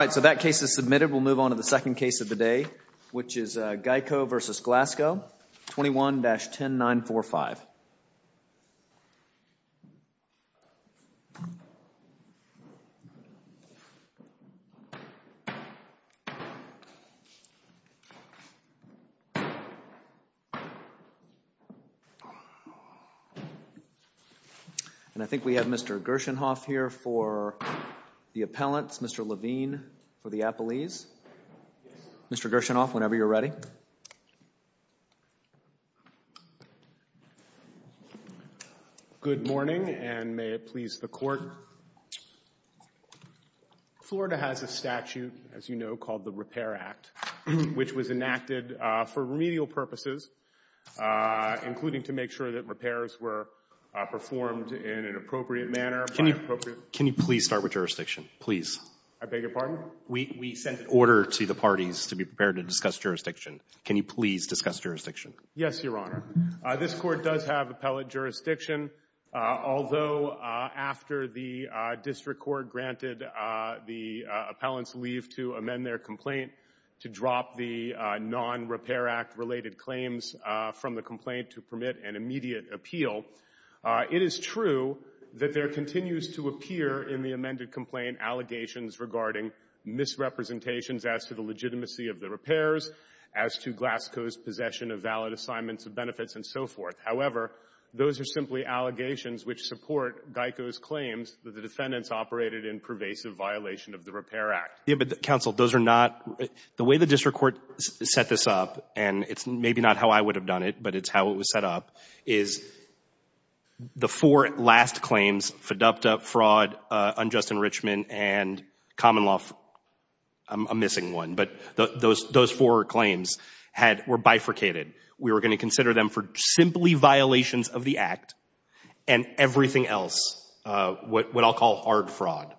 All right, so that case is submitted. We'll move on to the second case of the day, which is Geico v. Glassco, 21-10945. And I think we have Mr. Gerschenhoff here for the appellants, Mr. Levine for the appellees. Mr. Gerschenhoff, whenever you're ready. Good morning, and may it please the Court. Florida has a statute, as you know, called the Repair Act, which was enacted for remedial purposes, including to make sure that repairs were performed in an appropriate manner by appropriate— Can you please start with jurisdiction, please? I beg your pardon? We sent an order to the parties to be prepared to discuss jurisdiction. Can you please discuss jurisdiction? Yes, Your Honor. This Court does have appellate jurisdiction, although after the District Court granted the appellants leave to amend their complaint to drop the non-Repair Act related claims from the complaint to permit an immediate appeal, it is true that there are allegations regarding misrepresentations as to the legitimacy of the repairs, as to Glassco's possession of valid assignments of benefits and so forth. However, those are simply allegations which support Geico's claims that the defendants operated in pervasive violation of the Repair Act. Yes, but, counsel, those are not — the way the District Court set this up, and it's maybe not how I would have done it, but it's how it was set up, is the four last claims, FDUPTA, fraud, unjust enrichment, and common law — I'm missing one, but those four claims were bifurcated. We were going to consider them for simply violations of the Act and everything else, what I'll call hard fraud.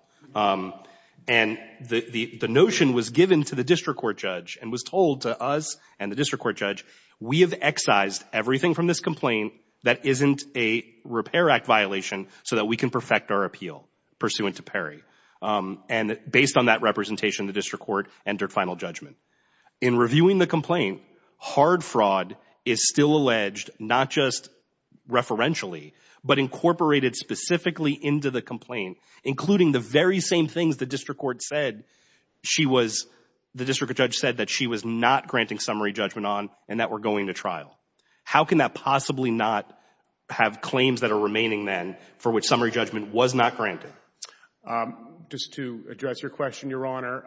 And the notion was given to the District Court judge and was told to us and the District Court judge, we have excised everything from this complaint that isn't a Repair Act violation so that we can perfect our appeal pursuant to PERI. And based on that representation, the District Court entered final judgment. In reviewing the complaint, hard fraud is still alleged, not just referentially, but incorporated specifically into the complaint, including the very same things the District Court said she was — the District Court judge said that she was not granting summary judgment on and that we're going to trial. How can that possibly not have claims that are remaining, then, for which summary judgment was not granted? Just to address your question, Your Honor,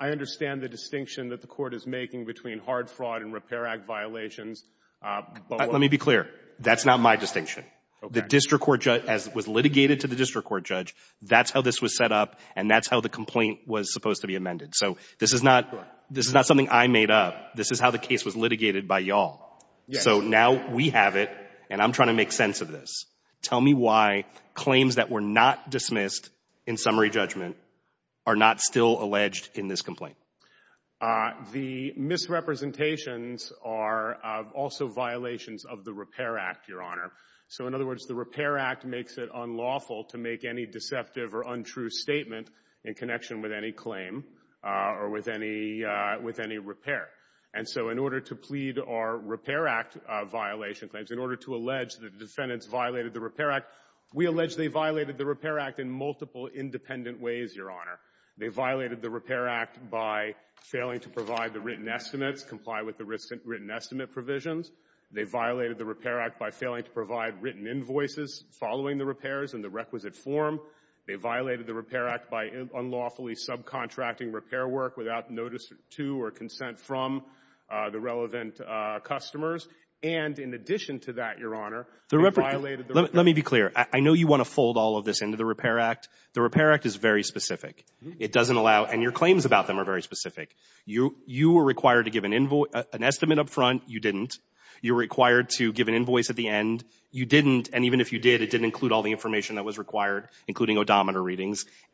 I understand the distinction that the Court is making between hard fraud and Repair Act violations, but what — Let me be clear. That's not my distinction. Okay. The District Court judge — as was litigated to the District Court judge, that's how this was set up, and that's how the complaint was supposed to be amended. So this is not — Right. This is not something I made up. This is how the case was litigated by y'all. Yes. So now we have it, and I'm trying to make sense of this. Tell me why claims that were not dismissed in summary judgment are not still alleged in this complaint. The misrepresentations are also violations of the Repair Act, Your Honor. So, in other words, the Repair Act makes it unlawful to make any deceptive or untrue statement in with any repair. And so, in order to plead our Repair Act violation claims, in order to allege that the defendants violated the Repair Act, we allege they violated the Repair Act in multiple independent ways, Your Honor. They violated the Repair Act by failing to provide the written estimates, comply with the written estimate provisions. They violated the Repair Act by failing to provide written invoices following the repairs in the requisite form. They violated the Repair Act by unlawfully subcontracting repair work without notice to or consent from the relevant customers. And in addition to that, Your Honor, they violated the Repair Act. Let me be clear. I know you want to fold all of this into the Repair Act. The Repair Act is very specific. It doesn't allow, and your claims about them are very specific. You were required to give an estimate up front. You didn't. You were required to give an invoice at the end. You didn't, and even if you did, it didn't include all the information that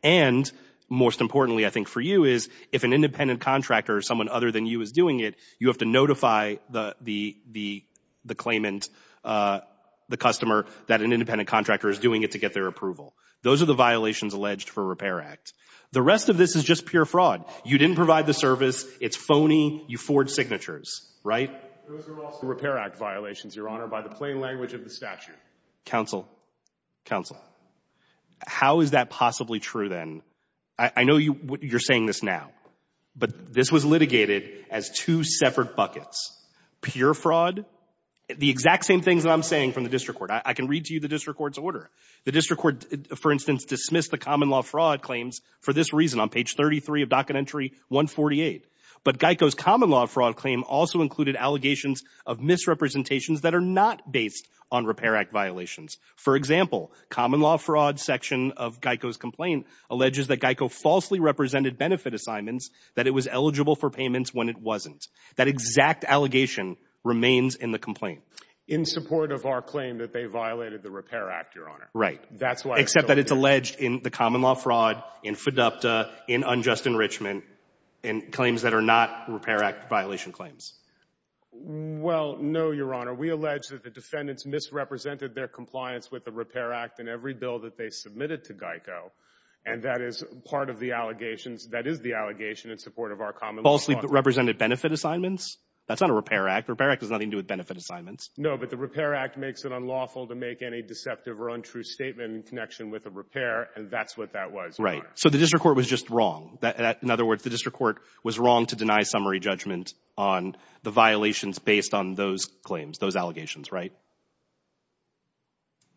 And most importantly, I think, for you is, if an independent contractor or someone other than you is doing it, you have to notify the claimant, the customer, that an independent contractor is doing it to get their approval. Those are the violations alleged for Repair Act. The rest of this is just pure fraud. You didn't provide the service. It's phony. You forward signatures, right? Those are also Repair Act violations, Your Honor, by the plain language of the statute. Counsel, Counsel, how is that possibly true then? I know you're saying this now, but this was litigated as two separate buckets. Pure fraud, the exact same things that I'm saying from the district court. I can read to you the district court's order. The district court, for instance, dismissed the common law fraud claims for this reason on page 33 of docket entry 148. But Geico's common law fraud claim also included allegations of misrepresentations that are not based on Repair Act violations. For example, common law fraud section of Geico's complaint alleges that Geico falsely represented benefit assignments, that it was eligible for payments when it wasn't. That exact allegation remains in the complaint. In support of our claim that they violated the Repair Act, Your Honor. Right. Except that it's alleged in the common law fraud, in FDUPTA, in unjust enrichment, in claims that are not Repair Act violation claims. Well, no, Your Honor. We allege that the defendants misrepresented their compliance with the Repair Act in every bill that they submitted to Geico. And that is part of the allegations. That is the allegation in support of our common law fraud. Falsely represented benefit assignments? That's not a Repair Act. Repair Act has nothing to do with benefit assignments. No, but the Repair Act makes it unlawful to make any deceptive or untrue statement in connection with a repair. And that's what that was, Your Honor. Right. So the district court was just wrong. In other words, the district court was wrong to deny summary judgment on the violations based on those claims, those allegations, right?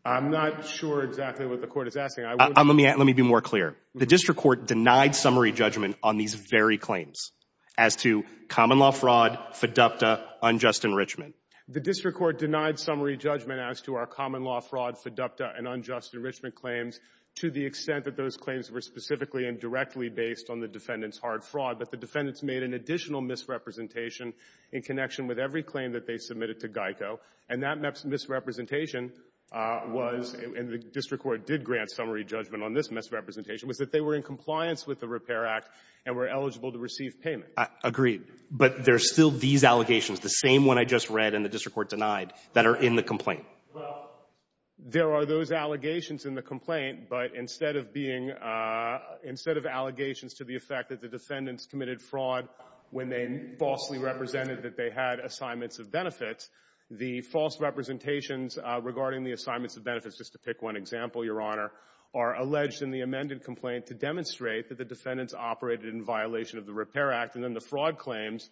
I'm not sure exactly what the court is asking. Let me be more clear. The district court denied summary judgment on these very claims as to common law fraud, FDUPTA, unjust enrichment. The district court denied summary judgment as to our common law fraud, FDUPTA, and unjust enrichment claims to the extent that those claims were specifically and directly based on the defendant's hard fraud. But the defendants made an additional misrepresentation in connection with every claim that they submitted to GEICO. And that misrepresentation was, and the district court did grant summary judgment on this misrepresentation, was that they were in compliance with the Repair Act and were eligible to receive payment. I agree. But there's still these allegations, the same one I just read and the district court denied, that are in the complaint. Well, there are those allegations in the complaint. But instead of being, instead of allegations to the effect that the defendants committed fraud when they falsely represented that they had assignments of benefits, the false representations regarding the assignments of benefits, just to pick one example, Your Honor, are alleged in the amended complaint to demonstrate that the defendants operated in violation of the Repair Act. And then the fraud claims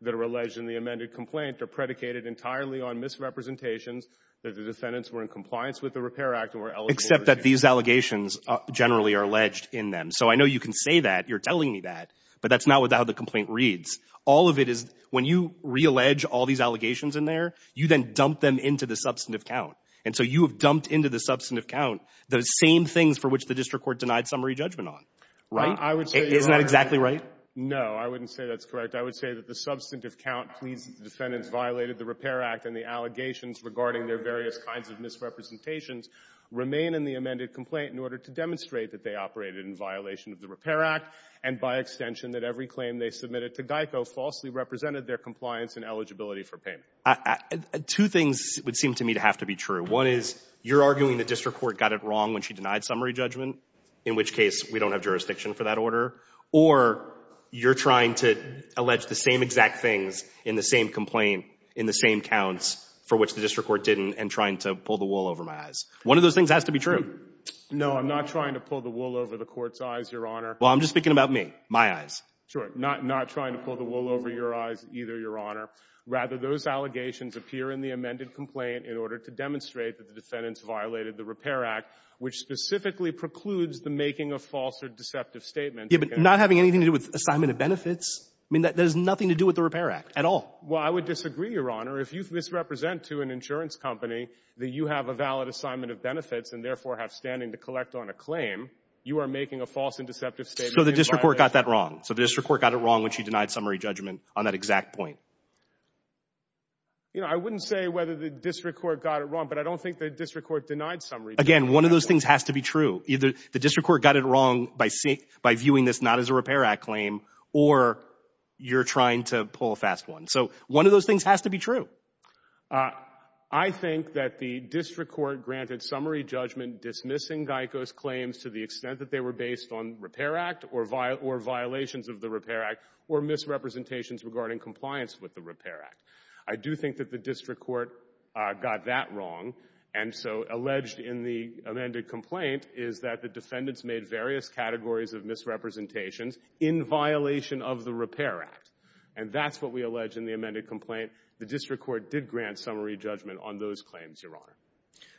that are alleged in the amended complaint are predicated entirely on misrepresentations that the defendants were in compliance with the Repair Act and were eligible to receive payment. Those generally are alleged in them. So I know you can say that. You're telling me that. But that's not how the complaint reads. All of it is when you reallege all these allegations in there, you then dump them into the substantive count. And so you have dumped into the substantive count the same things for which the district court denied summary judgment on. Right? Isn't that exactly right? No. I wouldn't say that's correct. I would say that the substantive count pleads that the defendants violated the Repair Act and the allegations regarding their various kinds of misrepresentations remain in the amended complaint in order to demonstrate that they operated in violation of the Repair Act and, by extension, that every claim they submitted to GEICO falsely represented their compliance and eligibility for payment. Two things would seem to me to have to be true. One is you're arguing the district court got it wrong when she denied summary judgment, in which case we don't have jurisdiction for that order, or you're trying to allege the same exact things in the same complaint in the same counts for which the district court didn't and trying to pull the wool over my eyes. One of those things has to be true. No. I'm not trying to pull the wool over the Court's eyes, Your Honor. Well, I'm just speaking about me, my eyes. Sure. Not trying to pull the wool over your eyes either, Your Honor. Rather, those allegations appear in the amended complaint in order to demonstrate that the defendants violated the Repair Act, which specifically precludes the making of false or deceptive statements. Yeah, but not having anything to do with assignment of benefits? I mean, that has nothing to do with the Repair Act at all. Well, I would disagree, Your Honor. If you misrepresent to an insurance company that you have a valid assignment of benefits and therefore have standing to collect on a claim, you are making a false and deceptive statement. So the district court got that wrong. So the district court got it wrong when she denied summary judgment on that exact point. You know, I wouldn't say whether the district court got it wrong, but I don't think the district court denied summary judgment. Again, one of those things has to be true. Either the district court got it wrong by viewing this not as a Repair Act claim or you're trying to pull a fast one. So one of those things has to be true. I think that the district court granted summary judgment dismissing GEICO's claims to the extent that they were based on Repair Act or violations of the Repair Act or misrepresentations regarding compliance with the Repair Act. I do think that the district court got that wrong. And so alleged in the amended complaint is that the defendants made various categories of misrepresentations in violation of the Repair Act. And that's what we allege in the amended complaint. The district court did grant summary judgment on those claims, Your Honor.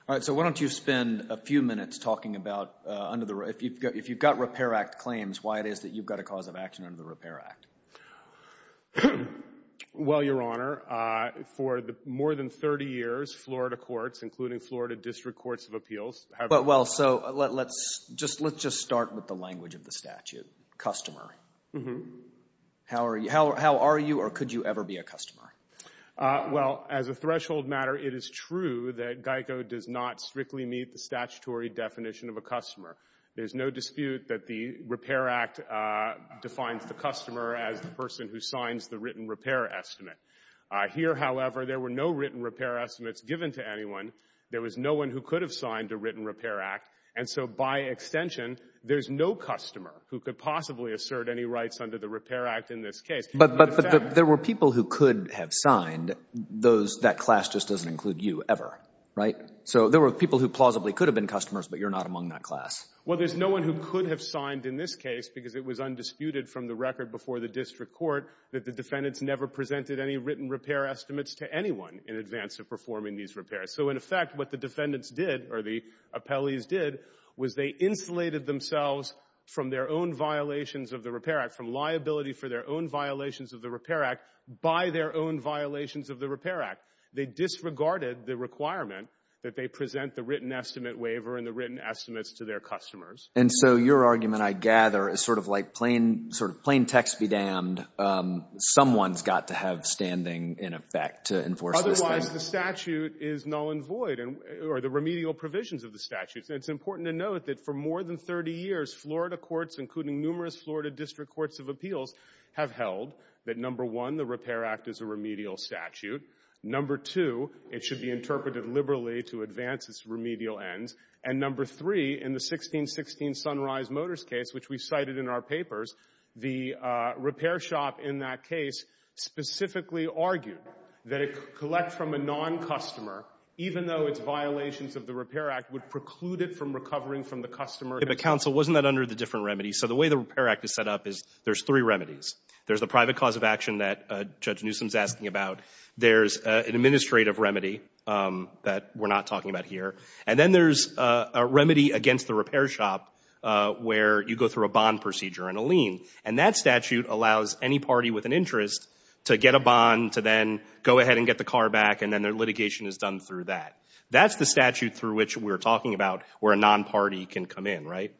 All right. So why don't you spend a few minutes talking about under the – if you've got Repair Act claims, why it is that you've got a cause of action under the Repair Act. Well, Your Honor, for more than 30 years, Florida courts, including Florida district courts of appeals have – Well, so let's just start with the language of the statute, customer. How are you or could you ever be a customer? Well, as a threshold matter, it is true that GEICO does not strictly meet the statutory definition of a customer. There's no dispute that the Repair Act defines the customer as the person who signs the written repair estimate. Here, however, there were no written repair estimates given to anyone. There was no one who could have signed a written repair act. And so by extension, there's no customer who could possibly assert any rights under the Repair Act in this case. But there were people who could have signed. Those – that class just doesn't include you ever, right? So there were people who plausibly could have been customers, but you're not among that class. Well, there's no one who could have signed in this case because it was undisputed from the record before the district court that the defendants never presented any written repair estimates to anyone in advance of performing these repairs. So in effect, what the defendants did, or the appellees did, was they insulated themselves from their own violations of the Repair Act, from liability for their own violations of the Repair Act by their own violations of the Repair Act. They disregarded the requirement that they present the written estimate waiver and the written estimates to their customers. And so your argument, I gather, is sort of like plain text be damned. Someone's got to have standing in effect to enforce this thing. Otherwise, the statute is null and void, or the remedial provisions of the statute. And it's important to note that for more than 30 years, Florida courts, including numerous Florida district courts of appeals, have held that, number one, the Repair Act is a remedial statute. Number two, it should be interpreted liberally to advance its remedial ends. And number three, in the 1616 Sunrise Motors case, which we cited in our papers, the repair shop in that case specifically argued that it could collect from a non-customer, even though its violations of the Repair Act would preclude it from recovering from the customer. But counsel, wasn't that under the different remedies? So the way the Repair Act is set up is there's three remedies. There's the private cause of action that Judge Newsom's asking about. There's an administrative remedy that we're not talking about here. And then there's a remedy against the repair shop where you go through a bond procedure and a lien. And that statute allows any party with an interest to get a bond, to then go ahead and get the car back, and then their litigation is done through that. That's the statute through which we're talking about where a non-party can come in, right?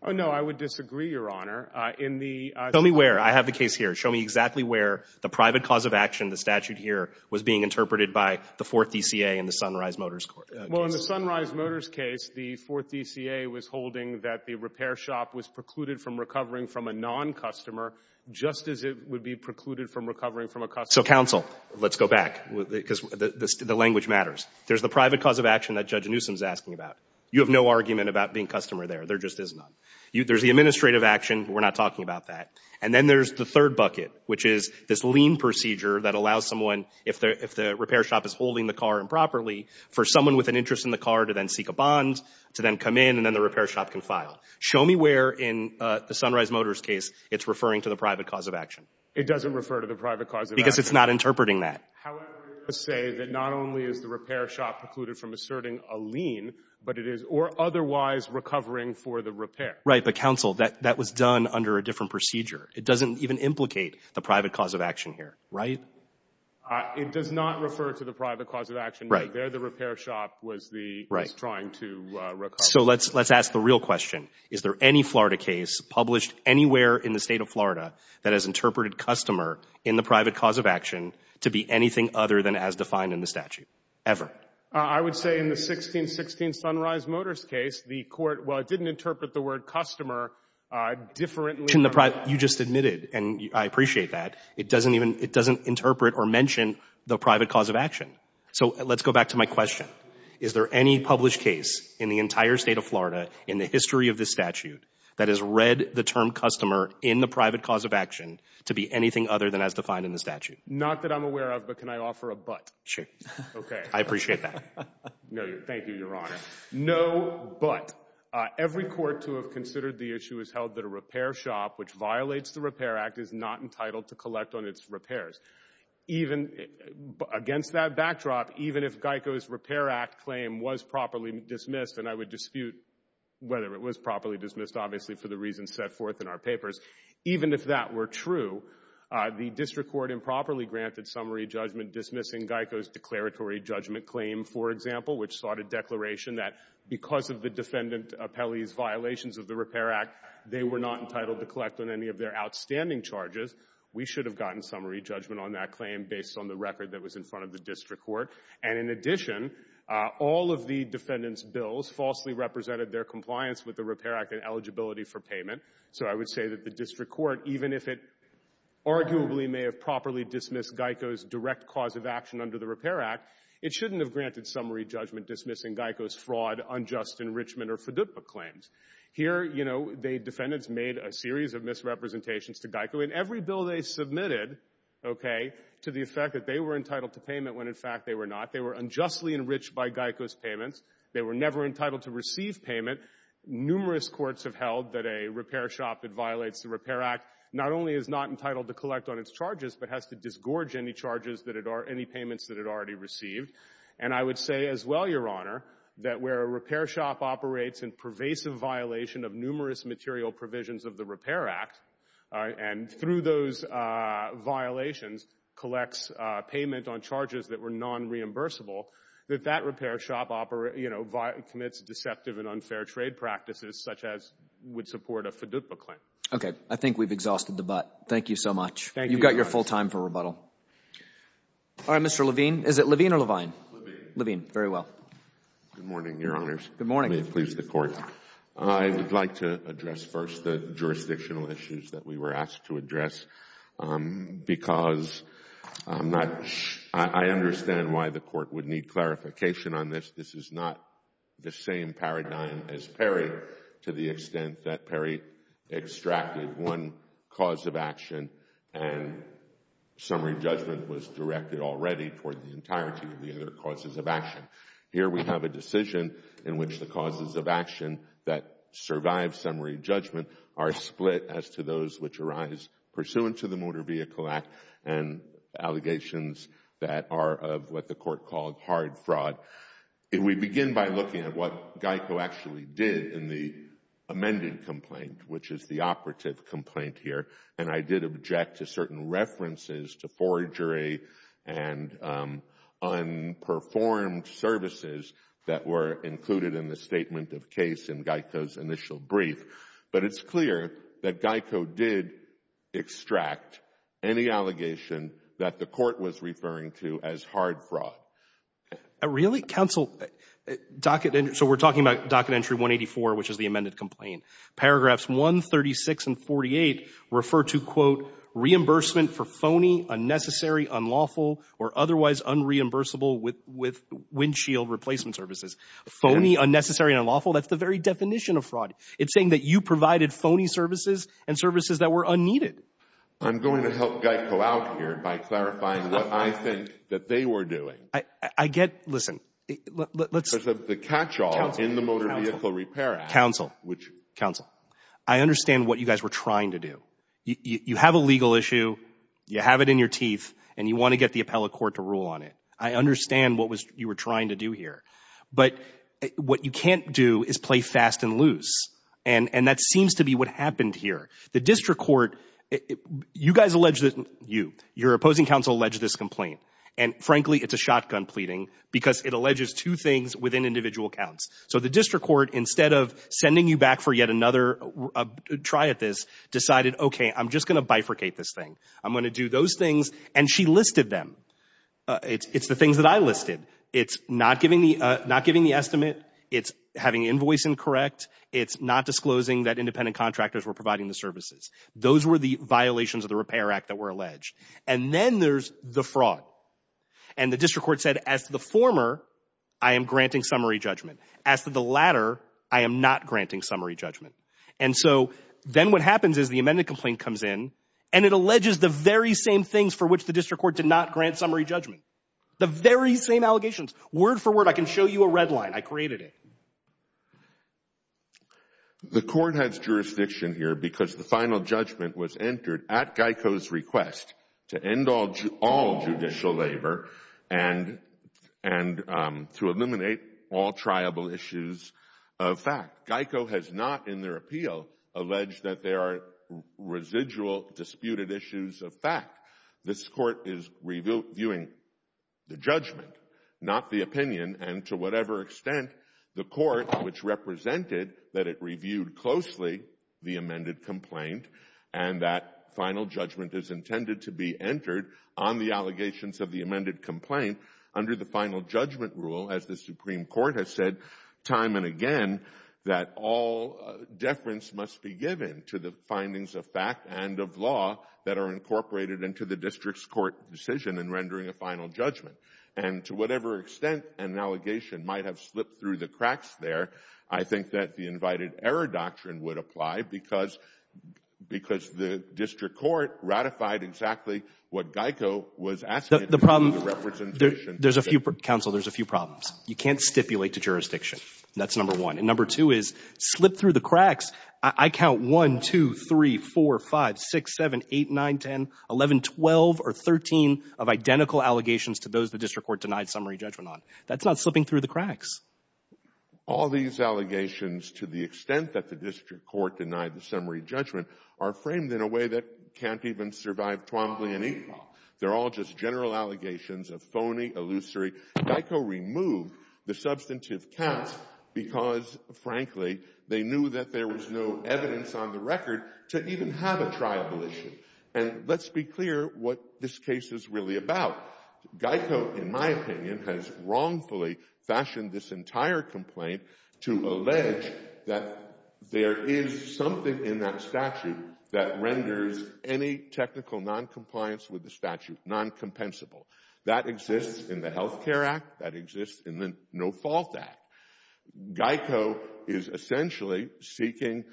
Oh, no, I would disagree, Your Honor. In the ---- Tell me where. I have the case here. Show me exactly where the private cause of action, the statute here, was being interpreted by the Fourth DCA and the Sunrise Motors Court. Well, in the Sunrise Motors case, the Fourth DCA was holding that the repair shop was precluded from recovering from a non-customer just as it would be precluded from recovering from a customer. So, counsel, let's go back, because the language matters. There's the private cause of action that Judge Newsom's asking about. You have no argument about being customer there. There just is none. There's the administrative action. We're not talking about that. And then there's the third bucket, which is this lien procedure that allows someone, if the repair shop is holding the car improperly, for someone with an interest in the car to then seek a bond, to then come in, and then the repair shop can file. Show me where in the Sunrise Motors case it's referring to the private cause of action. It doesn't refer to the private cause of action. Because it's not interpreting that. However, to say that not only is the repair shop precluded from asserting a lien, but it is or otherwise recovering for the repair. Right. But, counsel, that was done under a different procedure. It doesn't even implicate the private cause of action here. Right? It does not refer to the private cause of action. Right. There the repair shop was trying to recover. So let's ask the real question. Is there any Florida case published anywhere in the State of Florida that has interpreted customer in the private cause of action to be anything other than as defined in the statute? Ever? I would say in the 1616 Sunrise Motors case, the court, well, it didn't interpret the word customer differently. You just admitted, and I appreciate that. It doesn't even interpret or mention the private cause of action. So let's go back to my question. Is there any published case in the entire State of Florida in the history of this statute that has read the term customer in the private cause of action to be anything other than as defined in the statute? Not that I'm aware of, but can I offer a but? Sure. Okay. I appreciate that. No, thank you, Your Honor. No but. Every court to have considered the issue has held that a repair shop which violates the Repair Act is not entitled to collect on its repairs. Even against that backdrop, even if Geico's Repair Act claim was properly dismissed, and I would dispute whether it was properly dismissed, obviously, for the reasons set forth in our papers. Even if that were true, the district court improperly granted summary judgment dismissing Geico's declaratory judgment claim, for example, which sought a declaration that because of the defendant appellee's violations of the Repair Act, they were not entitled to collect on any of their outstanding charges. We should have gotten summary judgment on that claim based on the record that was in front of the district court. And in addition, all of the defendant's bills falsely represented their compliance with the Repair Act and eligibility for payment. So I would say that the district court, even if it arguably may have properly dismissed Geico's direct cause of action under the Repair Act, it shouldn't have granted summary judgment dismissing Geico's fraud, unjust enrichment, or FDUPA claims. Here, you know, the defendants made a series of misrepresentations to Geico, and every bill they submitted, okay, to the effect that they were entitled to payment when, in fact, they were not. They were unjustly enriched by Geico's payments. They were never entitled to receive payment. Numerous courts have held that a repair shop that violates the Repair Act not only is not entitled to collect on its charges but has to disgorge any charges that it already — any payments that it already received. And I would say as well, Your Honor, that where a repair shop operates in pervasive violation of numerous material provisions of the Repair Act and through those violations collects payment on charges that were non-reimbursable, that that repair shop, you know, commits deceptive and unfair trade practices such as would support a FDUPA claim. Okay. I think we've exhausted the butt. Thank you so much. Thank you, Your Honor. You've got your full time for rebuttal. All right, Mr. Levine. Is it Levine or Levine? Levine. Levine. Very well. Good morning, Your Honors. Good morning. Let me please the Court. I would like to address first the jurisdictional issues that we were asked to address because I'm not — I understand why the Court would need clarification on this. This is not the same paradigm as Perry to the extent that Perry extracted one cause of action and summary judgment was directed already toward the entirety of the other causes of action. Here we have a decision in which the causes of action that survive summary judgment are split as to those which arise pursuant to the Motor Vehicle Act and allegations that are of what the Court called hard fraud. If we begin by looking at what Geico actually did in the amended complaint, which is the operative complaint here, and I did object to certain references to forgery and unperformed services that were included in the statement of case in Geico's initial brief. But it's clear that Geico did extract any allegation that the Court was referring to as hard fraud. Really? Counsel, docket — so we're talking about docket entry 184, which is the amended complaint. Paragraphs 136 and 48 refer to, quote, reimbursement for phony, unnecessary, unlawful or otherwise unreimbursable windshield replacement services. Phony, unnecessary, unlawful? That's the very definition of fraud. It's saying that you provided phony services and services that were unneeded. I'm going to help Geico out here by clarifying what I think that they were doing. I get — listen, let's — Because of the catch-all in the Motor Vehicle Repair Act — Counsel, counsel, I understand what you guys were trying to do. You have a legal issue. You have it in your teeth. And you want to get the appellate court to rule on it. I understand what you were trying to do here. But what you can't do is play fast and loose. And that seems to be what happened here. The district court — you guys alleged that — you. Your opposing counsel alleged this complaint. And, frankly, it's a shotgun pleading because it alleges two things within individual counts. So the district court, instead of sending you back for yet another try at this, decided, OK, I'm just going to bifurcate this thing. I'm going to do those things. And she listed them. It's the things that I listed. It's not giving the estimate. It's having invoice incorrect. It's not disclosing that independent contractors were providing the services. Those were the violations of the Repair Act that were alleged. And then there's the fraud. And the district court said, as to the former, I am granting summary judgment. As to the latter, I am not granting summary judgment. And so then what happens is the amended complaint comes in, and it alleges the very same things for which the district court did not grant summary judgment. The very same allegations. Word for word. I can show you a red line. I created it. The court has jurisdiction here because the final judgment was entered at GEICO's request to end all judicial labor and to eliminate all triable issues of fact. GEICO has not, in their appeal, alleged that there are residual disputed issues of fact. This court is reviewing the judgment, not the opinion. And to whatever extent, the court, which represented that it reviewed closely the amended complaint, and that final judgment is intended to be entered on the allegations of the amended complaint under the final judgment rule, as the Supreme Court has said time and again, that all deference must be given to the findings of fact and of law that are incorporated into the district's court decision in rendering a final judgment. And to whatever extent an allegation might have slipped through the cracks there, I think that the invited error doctrine would apply because the district court ratified exactly what GEICO was asking. There's a few, Counsel, there's a few problems. You can't stipulate to jurisdiction. That's number one. And number two is slip through the cracks. I count 1, 2, 3, 4, 5, 6, 7, 8, 9, 10, 11, 12, or 13 of identical allegations to those the district court denied summary judgment on. That's not slipping through the cracks. All these allegations to the extent that the district court denied the summary judgment are framed in a way that can't even survive Twombly and Inquil. They're all just general allegations of phony, illusory. GEICO removed the substantive counts because, frankly, they knew that there was no evidence on the record to even have a trial volition. And let's be clear what this case is really about. GEICO, in my opinion, has wrongfully fashioned this entire complaint to allege that there is something in that statute that renders any technical noncompliance with the statute noncompensable. That exists in the Health Care Act. That exists in the No Fault Act. GEICO is essentially seeking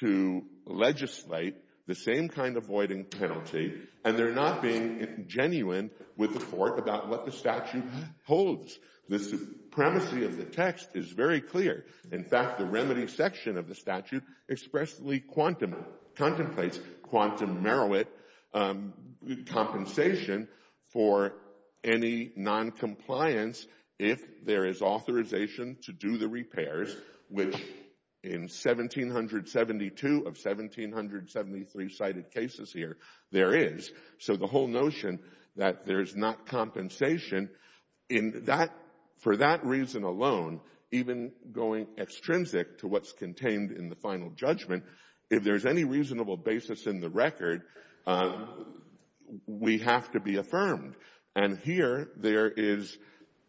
to legislate the same kind of voiding penalty, and they're not being genuine with the court about what the statute holds. The supremacy of the text is very clear. In fact, the remedy section of the statute expressly contemplates quantum merit compensation for any noncompliance if there is authorization to do the repairs, which in 1,772 of 1,773 cited cases here there is. So the whole notion that there is not compensation for that reason alone, even going extrinsic to what's contained in the final judgment, if there is any reasonable basis in the record, we have to be affirmed. And here there is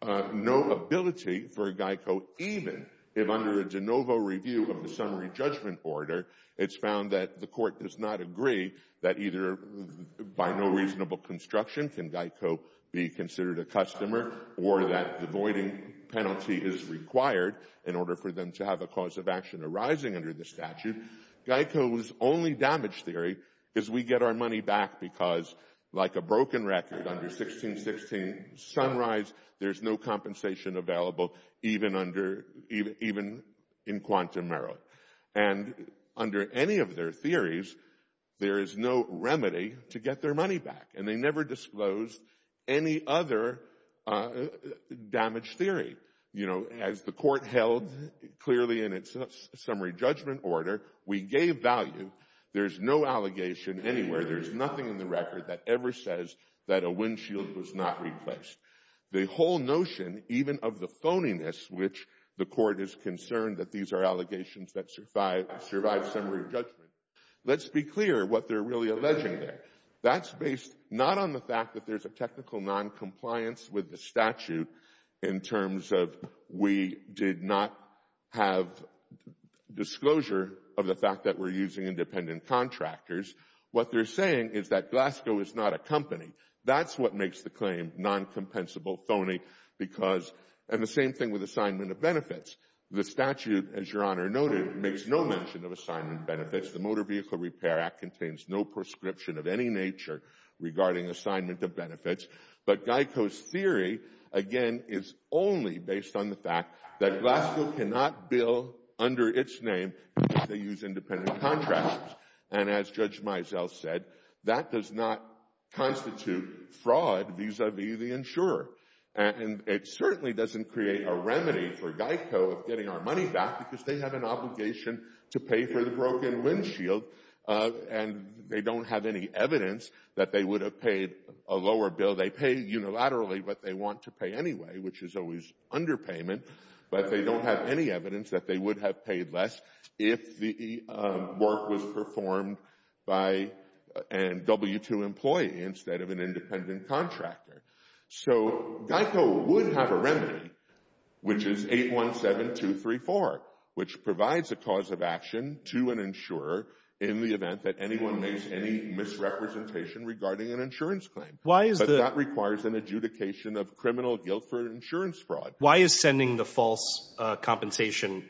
no ability for GEICO even if under a de novo review of the summary judgment order it's found that the court does not agree that either by no reasonable construction can GEICO be considered a customer or that the voiding penalty is required in order for them to have a cause of action arising under the statute. GEICO's only damage theory is we get our money back because, like a broken record under 1616 Sunrise, there's no compensation available even in quantum merit. And under any of their theories, there is no remedy to get their money back, and they never disclosed any other damage theory. As the court held clearly in its summary judgment order, we gave value. There's no allegation anywhere. There's nothing in the record that ever says that a windshield was not replaced. The whole notion, even of the phoniness which the court is concerned that these are allegations that survive summary judgment, let's be clear what they're really alleging there. That's based not on the fact that there's a technical noncompliance with the case of we did not have disclosure of the fact that we're using independent contractors. What they're saying is that Glasgow is not a company. That's what makes the claim noncompensable, phony, and the same thing with assignment of benefits. The statute, as Your Honor noted, makes no mention of assignment benefits. The Motor Vehicle Repair Act contains no prescription of any nature regarding assignment of benefits. But Geico's theory, again, is only based on the fact that Glasgow cannot bill under its name because they use independent contractors. And as Judge Mizell said, that does not constitute fraud vis-a-vis the insurer. And it certainly doesn't create a remedy for Geico of getting our money back because they have an obligation to pay for the broken windshield, and they don't have any evidence that they would have paid a lower bill. They pay unilaterally what they want to pay anyway, which is always underpayment, but they don't have any evidence that they would have paid less if the work was performed by a W-2 employee instead of an independent contractor. So Geico would have a remedy, which is 817234, which provides a cause of action to an insurer in the event that anyone makes any misrepresentation regarding an insurance claim. But that requires an adjudication of criminal guilt for insurance fraud. Why is sending the false compensation?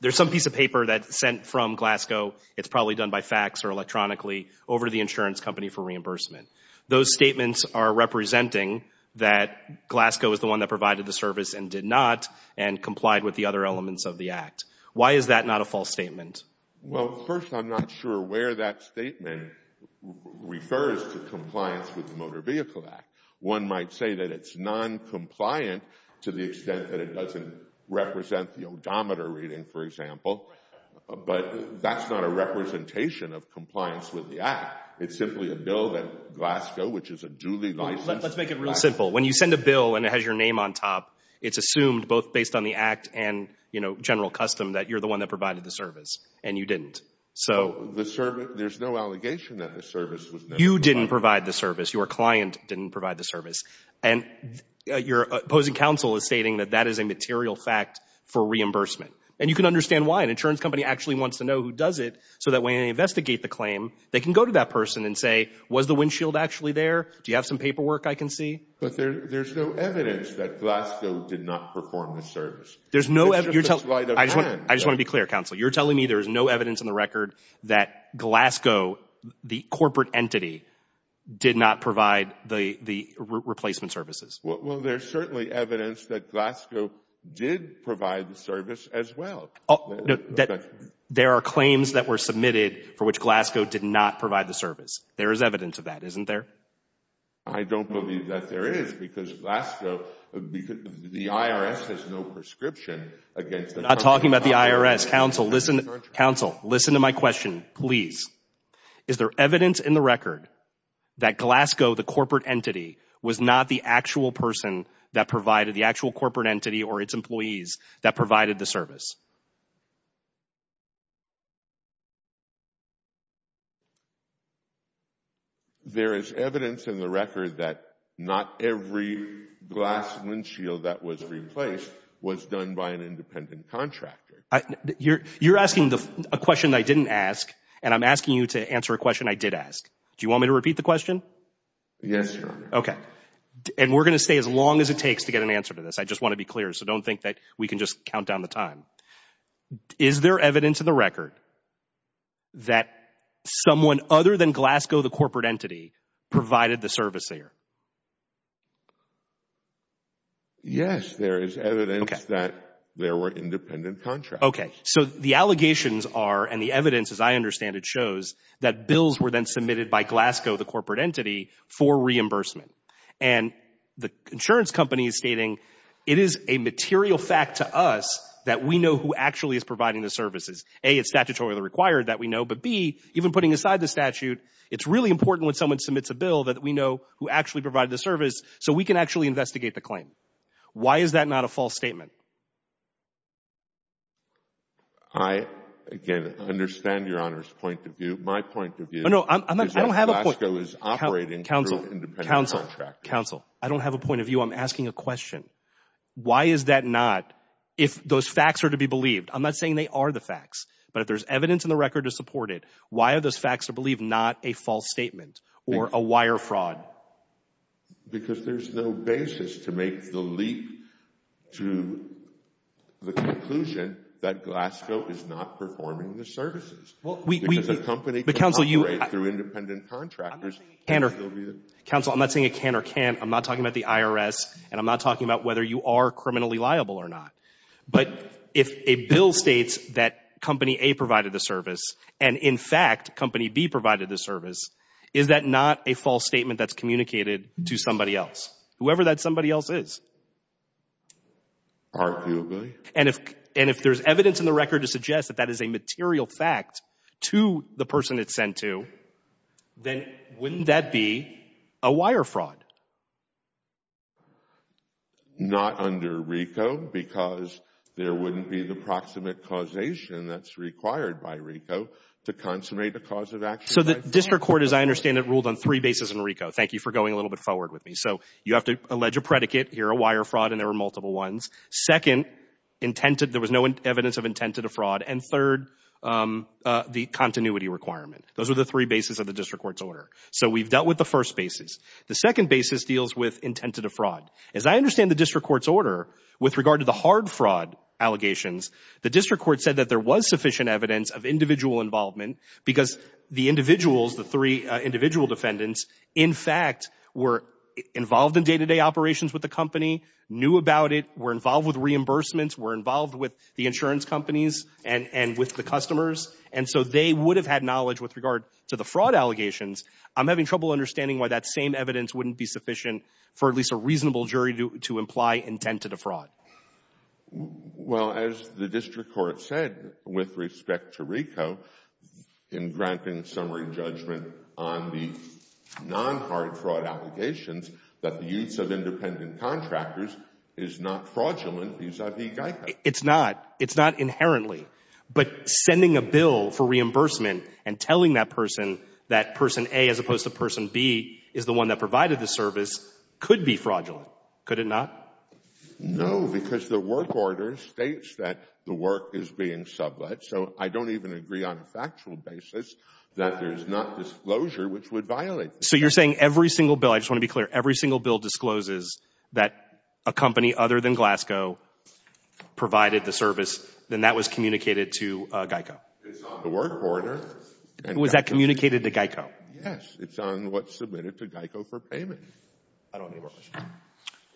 There's some piece of paper that's sent from Glasgow. It's probably done by fax or electronically over to the insurance company for reimbursement. Those statements are representing that Glasgow is the one that provided the service and did not and complied with the other elements of the act. Why is that not a false statement? Well, first, I'm not sure where that statement refers to compliance with the Motor Vehicle Act. One might say that it's noncompliant to the extent that it doesn't represent the odometer reading, for example, but that's not a representation of compliance with the act. It's simply a bill that Glasgow, which is a duly licensed… Let's make it real simple. When you send a bill and it has your name on top, it's assumed both based on the custom that you're the one that provided the service and you didn't. There's no allegation that the service was never provided. You didn't provide the service. Your client didn't provide the service. And your opposing counsel is stating that that is a material fact for reimbursement. And you can understand why. An insurance company actually wants to know who does it so that when they investigate the claim, they can go to that person and say, was the windshield actually there? Do you have some paperwork I can see? But there's no evidence that Glasgow did not perform the service. I just want to be clear, counsel. You're telling me there's no evidence in the record that Glasgow, the corporate entity, did not provide the replacement services? Well, there's certainly evidence that Glasgow did provide the service as well. There are claims that were submitted for which Glasgow did not provide the service. There is evidence of that, isn't there? I don't believe that there is because the IRS has no prescription against the company. I'm not talking about the IRS. Counsel, listen to my question, please. Is there evidence in the record that Glasgow, the corporate entity, was not the actual person that provided the actual corporate entity or its employees that provided the service? There is evidence in the record that not every glass windshield that was replaced was done by an independent contractor. You're asking a question I didn't ask, and I'm asking you to answer a question I did ask. Do you want me to repeat the question? Yes, Your Honor. Okay. And we're going to stay as long as it takes to get an answer to this. I just want to be clear, so don't think that we can just count down the time. Is there evidence in the record that someone other than Glasgow, the corporate entity, provided the service there? Yes, there is evidence that there were independent contractors. Okay. So the allegations are, and the evidence, as I understand it, shows that bills were then submitted by Glasgow, the corporate entity, for reimbursement. And the insurance company is stating it is a material fact to us that we know who actually is providing the services. A, it's statutorily required that we know, but B, even putting aside the statute, it's really important when someone submits a bill that we know who actually provided the service so we can actually investigate the claim. Why is that not a false statement? I, again, understand Your Honor's point of view. My point of view is that Glasgow is operating through independent contractors. Counsel, counsel, counsel, I don't have a point of view. I'm asking a question. Why is that not, if those facts are to be believed, I'm not saying they are the facts, but if there's evidence in the record to support it, why are those facts to believe not a false statement or a wire fraud? Because there's no basis to make the leap to the conclusion that Glasgow is not performing the services. Because a company can operate through independent contractors. Counsel, I'm not saying it can or can't. I'm not talking about the IRS, and I'm not talking about whether you are criminally liable or not. But if a bill states that Company A provided the service, and in fact Company B provided the service, is that not a false statement that's communicated to somebody else, whoever that somebody else is? Arguably. And if there's evidence in the record to suggest that that is a material fact to the person it's sent to, then wouldn't that be a wire fraud? Not under RICO, because there wouldn't be the proximate causation that's required by RICO to consummate a cause of action. So the district court, as I understand it, ruled on three bases in RICO. Thank you for going a little bit forward with me. So you have to allege a predicate. You're a wire fraud, and there were multiple ones. Second, there was no evidence of intended fraud. And third, the continuity requirement. Those are the three bases of the district court's order. So we've dealt with the first basis. The second basis deals with intended fraud. As I understand the district court's order, with regard to the hard fraud allegations, the district court said that there was sufficient evidence of individual involvement because the individuals, the three individual defendants, in fact were involved in day-to-day operations with the company, knew about it, were involved with reimbursements, were involved with the insurance companies and with the customers, and so they would have had knowledge with regard to the fraud allegations. I'm having trouble understanding why that same evidence wouldn't be sufficient for at least a reasonable jury to imply intended fraud. Well, as the district court said, with respect to RICO, in granting summary judgment on the non-hard fraud allegations, that the use of independent contractors is not fraudulent vis-a-vis GEICO. It's not. It's not inherently. But sending a bill for reimbursement and telling that person that person A, as opposed to person B, is the one that provided the service could be fraudulent. Could it not? No, because the work order states that the work is being sublet, so I don't even agree on a factual basis that there's not disclosure, which would violate the statute. So you're saying every single bill, I just want to be clear, every single bill discloses that a company other than Glasgow provided the service, then that was communicated to GEICO? It's on the work order. Was that communicated to GEICO? Yes. It's on what's submitted to GEICO for payment. I don't need more questions.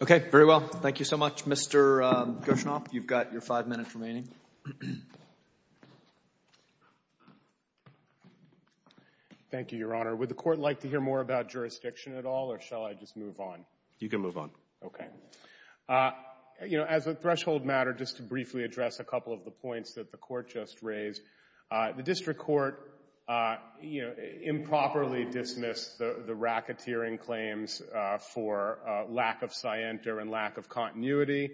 Okay. Very well. Thank you so much, Mr. Gershom. You've got your five minutes remaining. Thank you, Your Honor. Would the Court like to hear more about jurisdiction at all, or shall I just move on? You can move on. Okay. You know, as a threshold matter, just to briefly address a couple of the points that the Court just raised, the district court improperly dismissed the racketeering claims for lack of scienter and lack of continuity.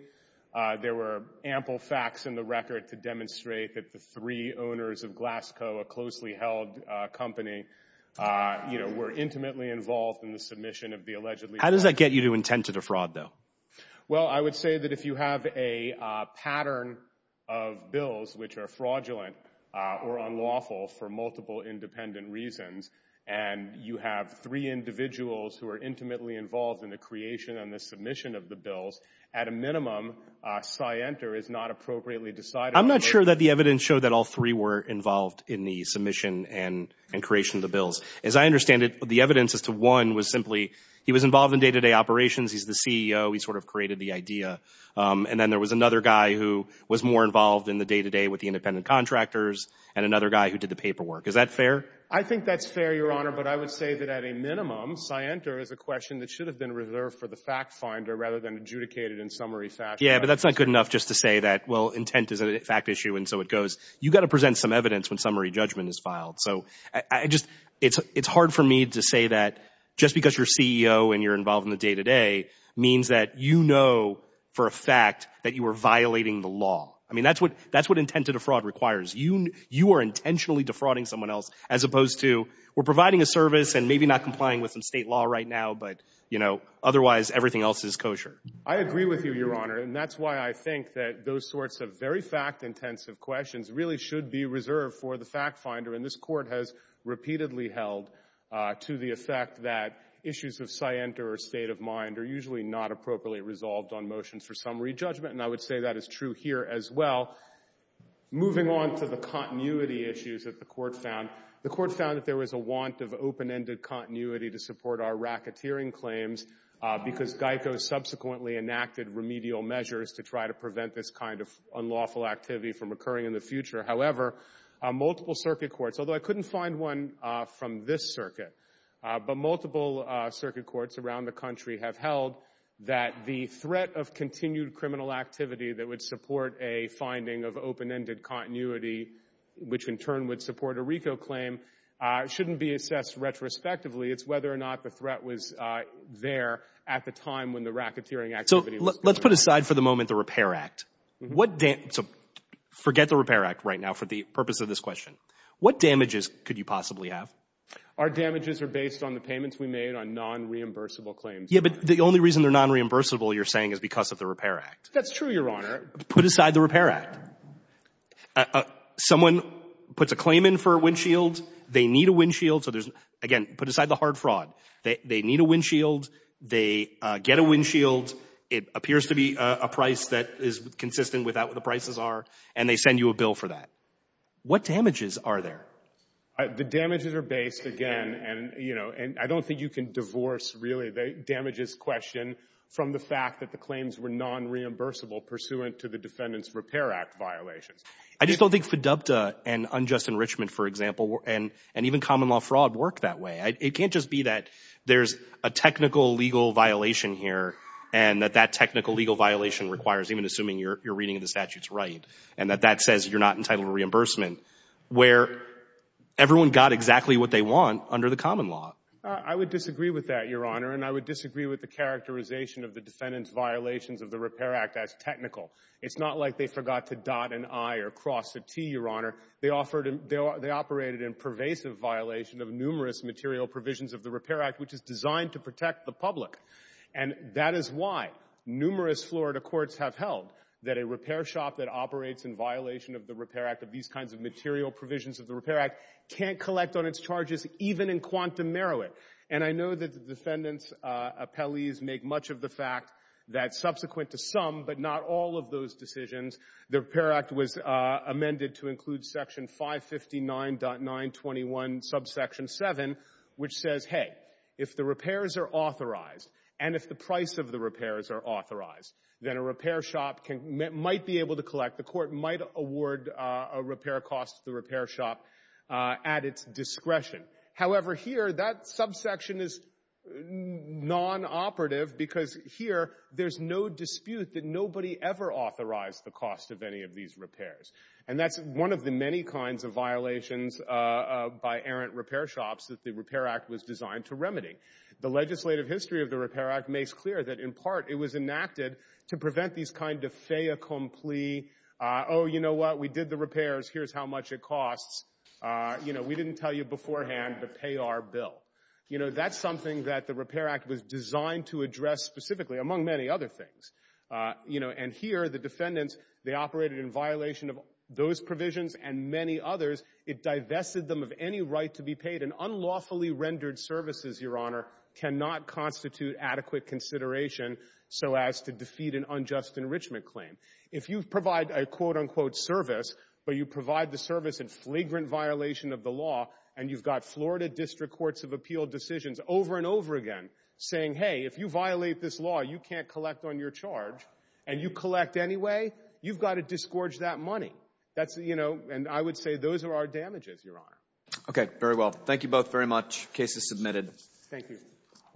There were ample facts in the record to demonstrate that the three owners of Glasgow, a closely held company, were intimately involved in the submission of the allegedly Well, I would say that if you have a pattern of bills which are fraudulent or unlawful for multiple independent reasons, and you have three individuals who are intimately involved in the creation and the submission of the bills, at a minimum, scienter is not appropriately decided. I'm not sure that the evidence showed that all three were involved in the submission and creation of the bills. As I understand it, the evidence as to one was simply he was involved in day-to-day operations. He's the CEO. He sort of created the idea. And then there was another guy who was more involved in the day-to-day with the independent contractors and another guy who did the paperwork. Is that fair? I think that's fair, Your Honor, but I would say that at a minimum, scienter is a question that should have been reserved for the fact finder rather than adjudicated in summary fact. Yeah, but that's not good enough just to say that, well, intent is a fact issue and so it goes. You've got to present some evidence when summary judgment is filed. So it's hard for me to say that just because you're CEO and you're involved in the day-to-day means that you know for a fact that you are violating the law. I mean, that's what intent to defraud requires. You are intentionally defrauding someone else as opposed to we're providing a service and maybe not complying with some state law right now, but otherwise everything else is kosher. I agree with you, Your Honor, and that's why I think that those sorts of very fact-intensive questions really should be reserved for the fact finder. And this Court has repeatedly held to the effect that issues of scienter or state of mind are usually not appropriately resolved on motions for summary judgment, and I would say that is true here as well. Moving on to the continuity issues that the Court found, the Court found that there was a want of open-ended continuity to support our racketeering claims because GEICO subsequently enacted remedial measures to try to prevent this kind of unlawful activity from occurring in the future. However, multiple circuit courts, although I couldn't find one from this circuit, but multiple circuit courts around the country have held that the threat of continued criminal activity that would support a finding of open-ended continuity, which in turn would support a RICO claim, shouldn't be assessed retrospectively. It's whether or not the threat was there at the time when the racketeering activity was there. So let's put aside for the moment the Repair Act. So forget the Repair Act right now for the purpose of this question. What damages could you possibly have? Our damages are based on the payments we made on nonreimbursable claims. Yes, but the only reason they're nonreimbursable, you're saying, is because of the Repair Act. That's true, Your Honor. Put aside the Repair Act. Someone puts a claim in for a windshield. They need a windshield. So there's, again, put aside the hard fraud. They need a windshield. They get a windshield. It appears to be a price that is consistent with what the prices are, and they send you a bill for that. What damages are there? The damages are based, again, and, you know, I don't think you can divorce really the damages question from the fact that the claims were nonreimbursable pursuant to the Defendant's Repair Act violations. I just don't think FIDUPTA and unjust enrichment, for example, and even common law fraud worked that way. It can't just be that there's a technical legal violation here and that that technical legal violation requires, even assuming you're reading the statutes right, and that that says you're not entitled to reimbursement. Where everyone got exactly what they want under the common law. I would disagree with that, Your Honor, and I would disagree with the characterization of the Defendant's violations of the Repair Act as technical. It's not like they forgot to dot an I or cross a T, Your Honor. They operated in pervasive violation of numerous material provisions of the Repair Act, which is designed to protect the public. And that is why numerous Florida courts have held that a repair shop that can't collect on its charges, even in quantum merit. And I know that the Defendant's appellees make much of the fact that subsequent to some, but not all of those decisions, the Repair Act was amended to include section 559.921 subsection 7, which says, hey, if the repairs are authorized, and if the price of the repairs are authorized, then a repair shop might be able to collect, the court might award a repair cost to the repair shop at its discretion. However, here, that subsection is non-operative, because here there's no dispute that nobody ever authorized the cost of any of these repairs. And that's one of the many kinds of violations by errant repair shops that the Repair Act was designed to remedy. The legislative history of the Repair Act makes clear that, in part, it was enacted to prevent these kind of fait accompli, oh, you know what? We did the repairs. Here's how much it costs. You know, we didn't tell you beforehand to pay our bill. You know, that's something that the Repair Act was designed to address specifically, among many other things. You know, and here the Defendants, they operated in violation of those provisions and many others. It divested them of any right to be paid. And unlawfully rendered services, Your Honor, cannot constitute adequate consideration so as to defeat an unjust enrichment claim. If you provide a quote-unquote service, but you provide the service in flagrant violation of the law and you've got Florida District Courts of Appeal decisions over and over again saying, hey, if you violate this law, you can't collect on your charge, and you collect anyway, you've got to disgorge that money. That's, you know, and I would say those are our damages, Your Honor. Okay, very well. Thank you both very much. Case is submitted. Thank you.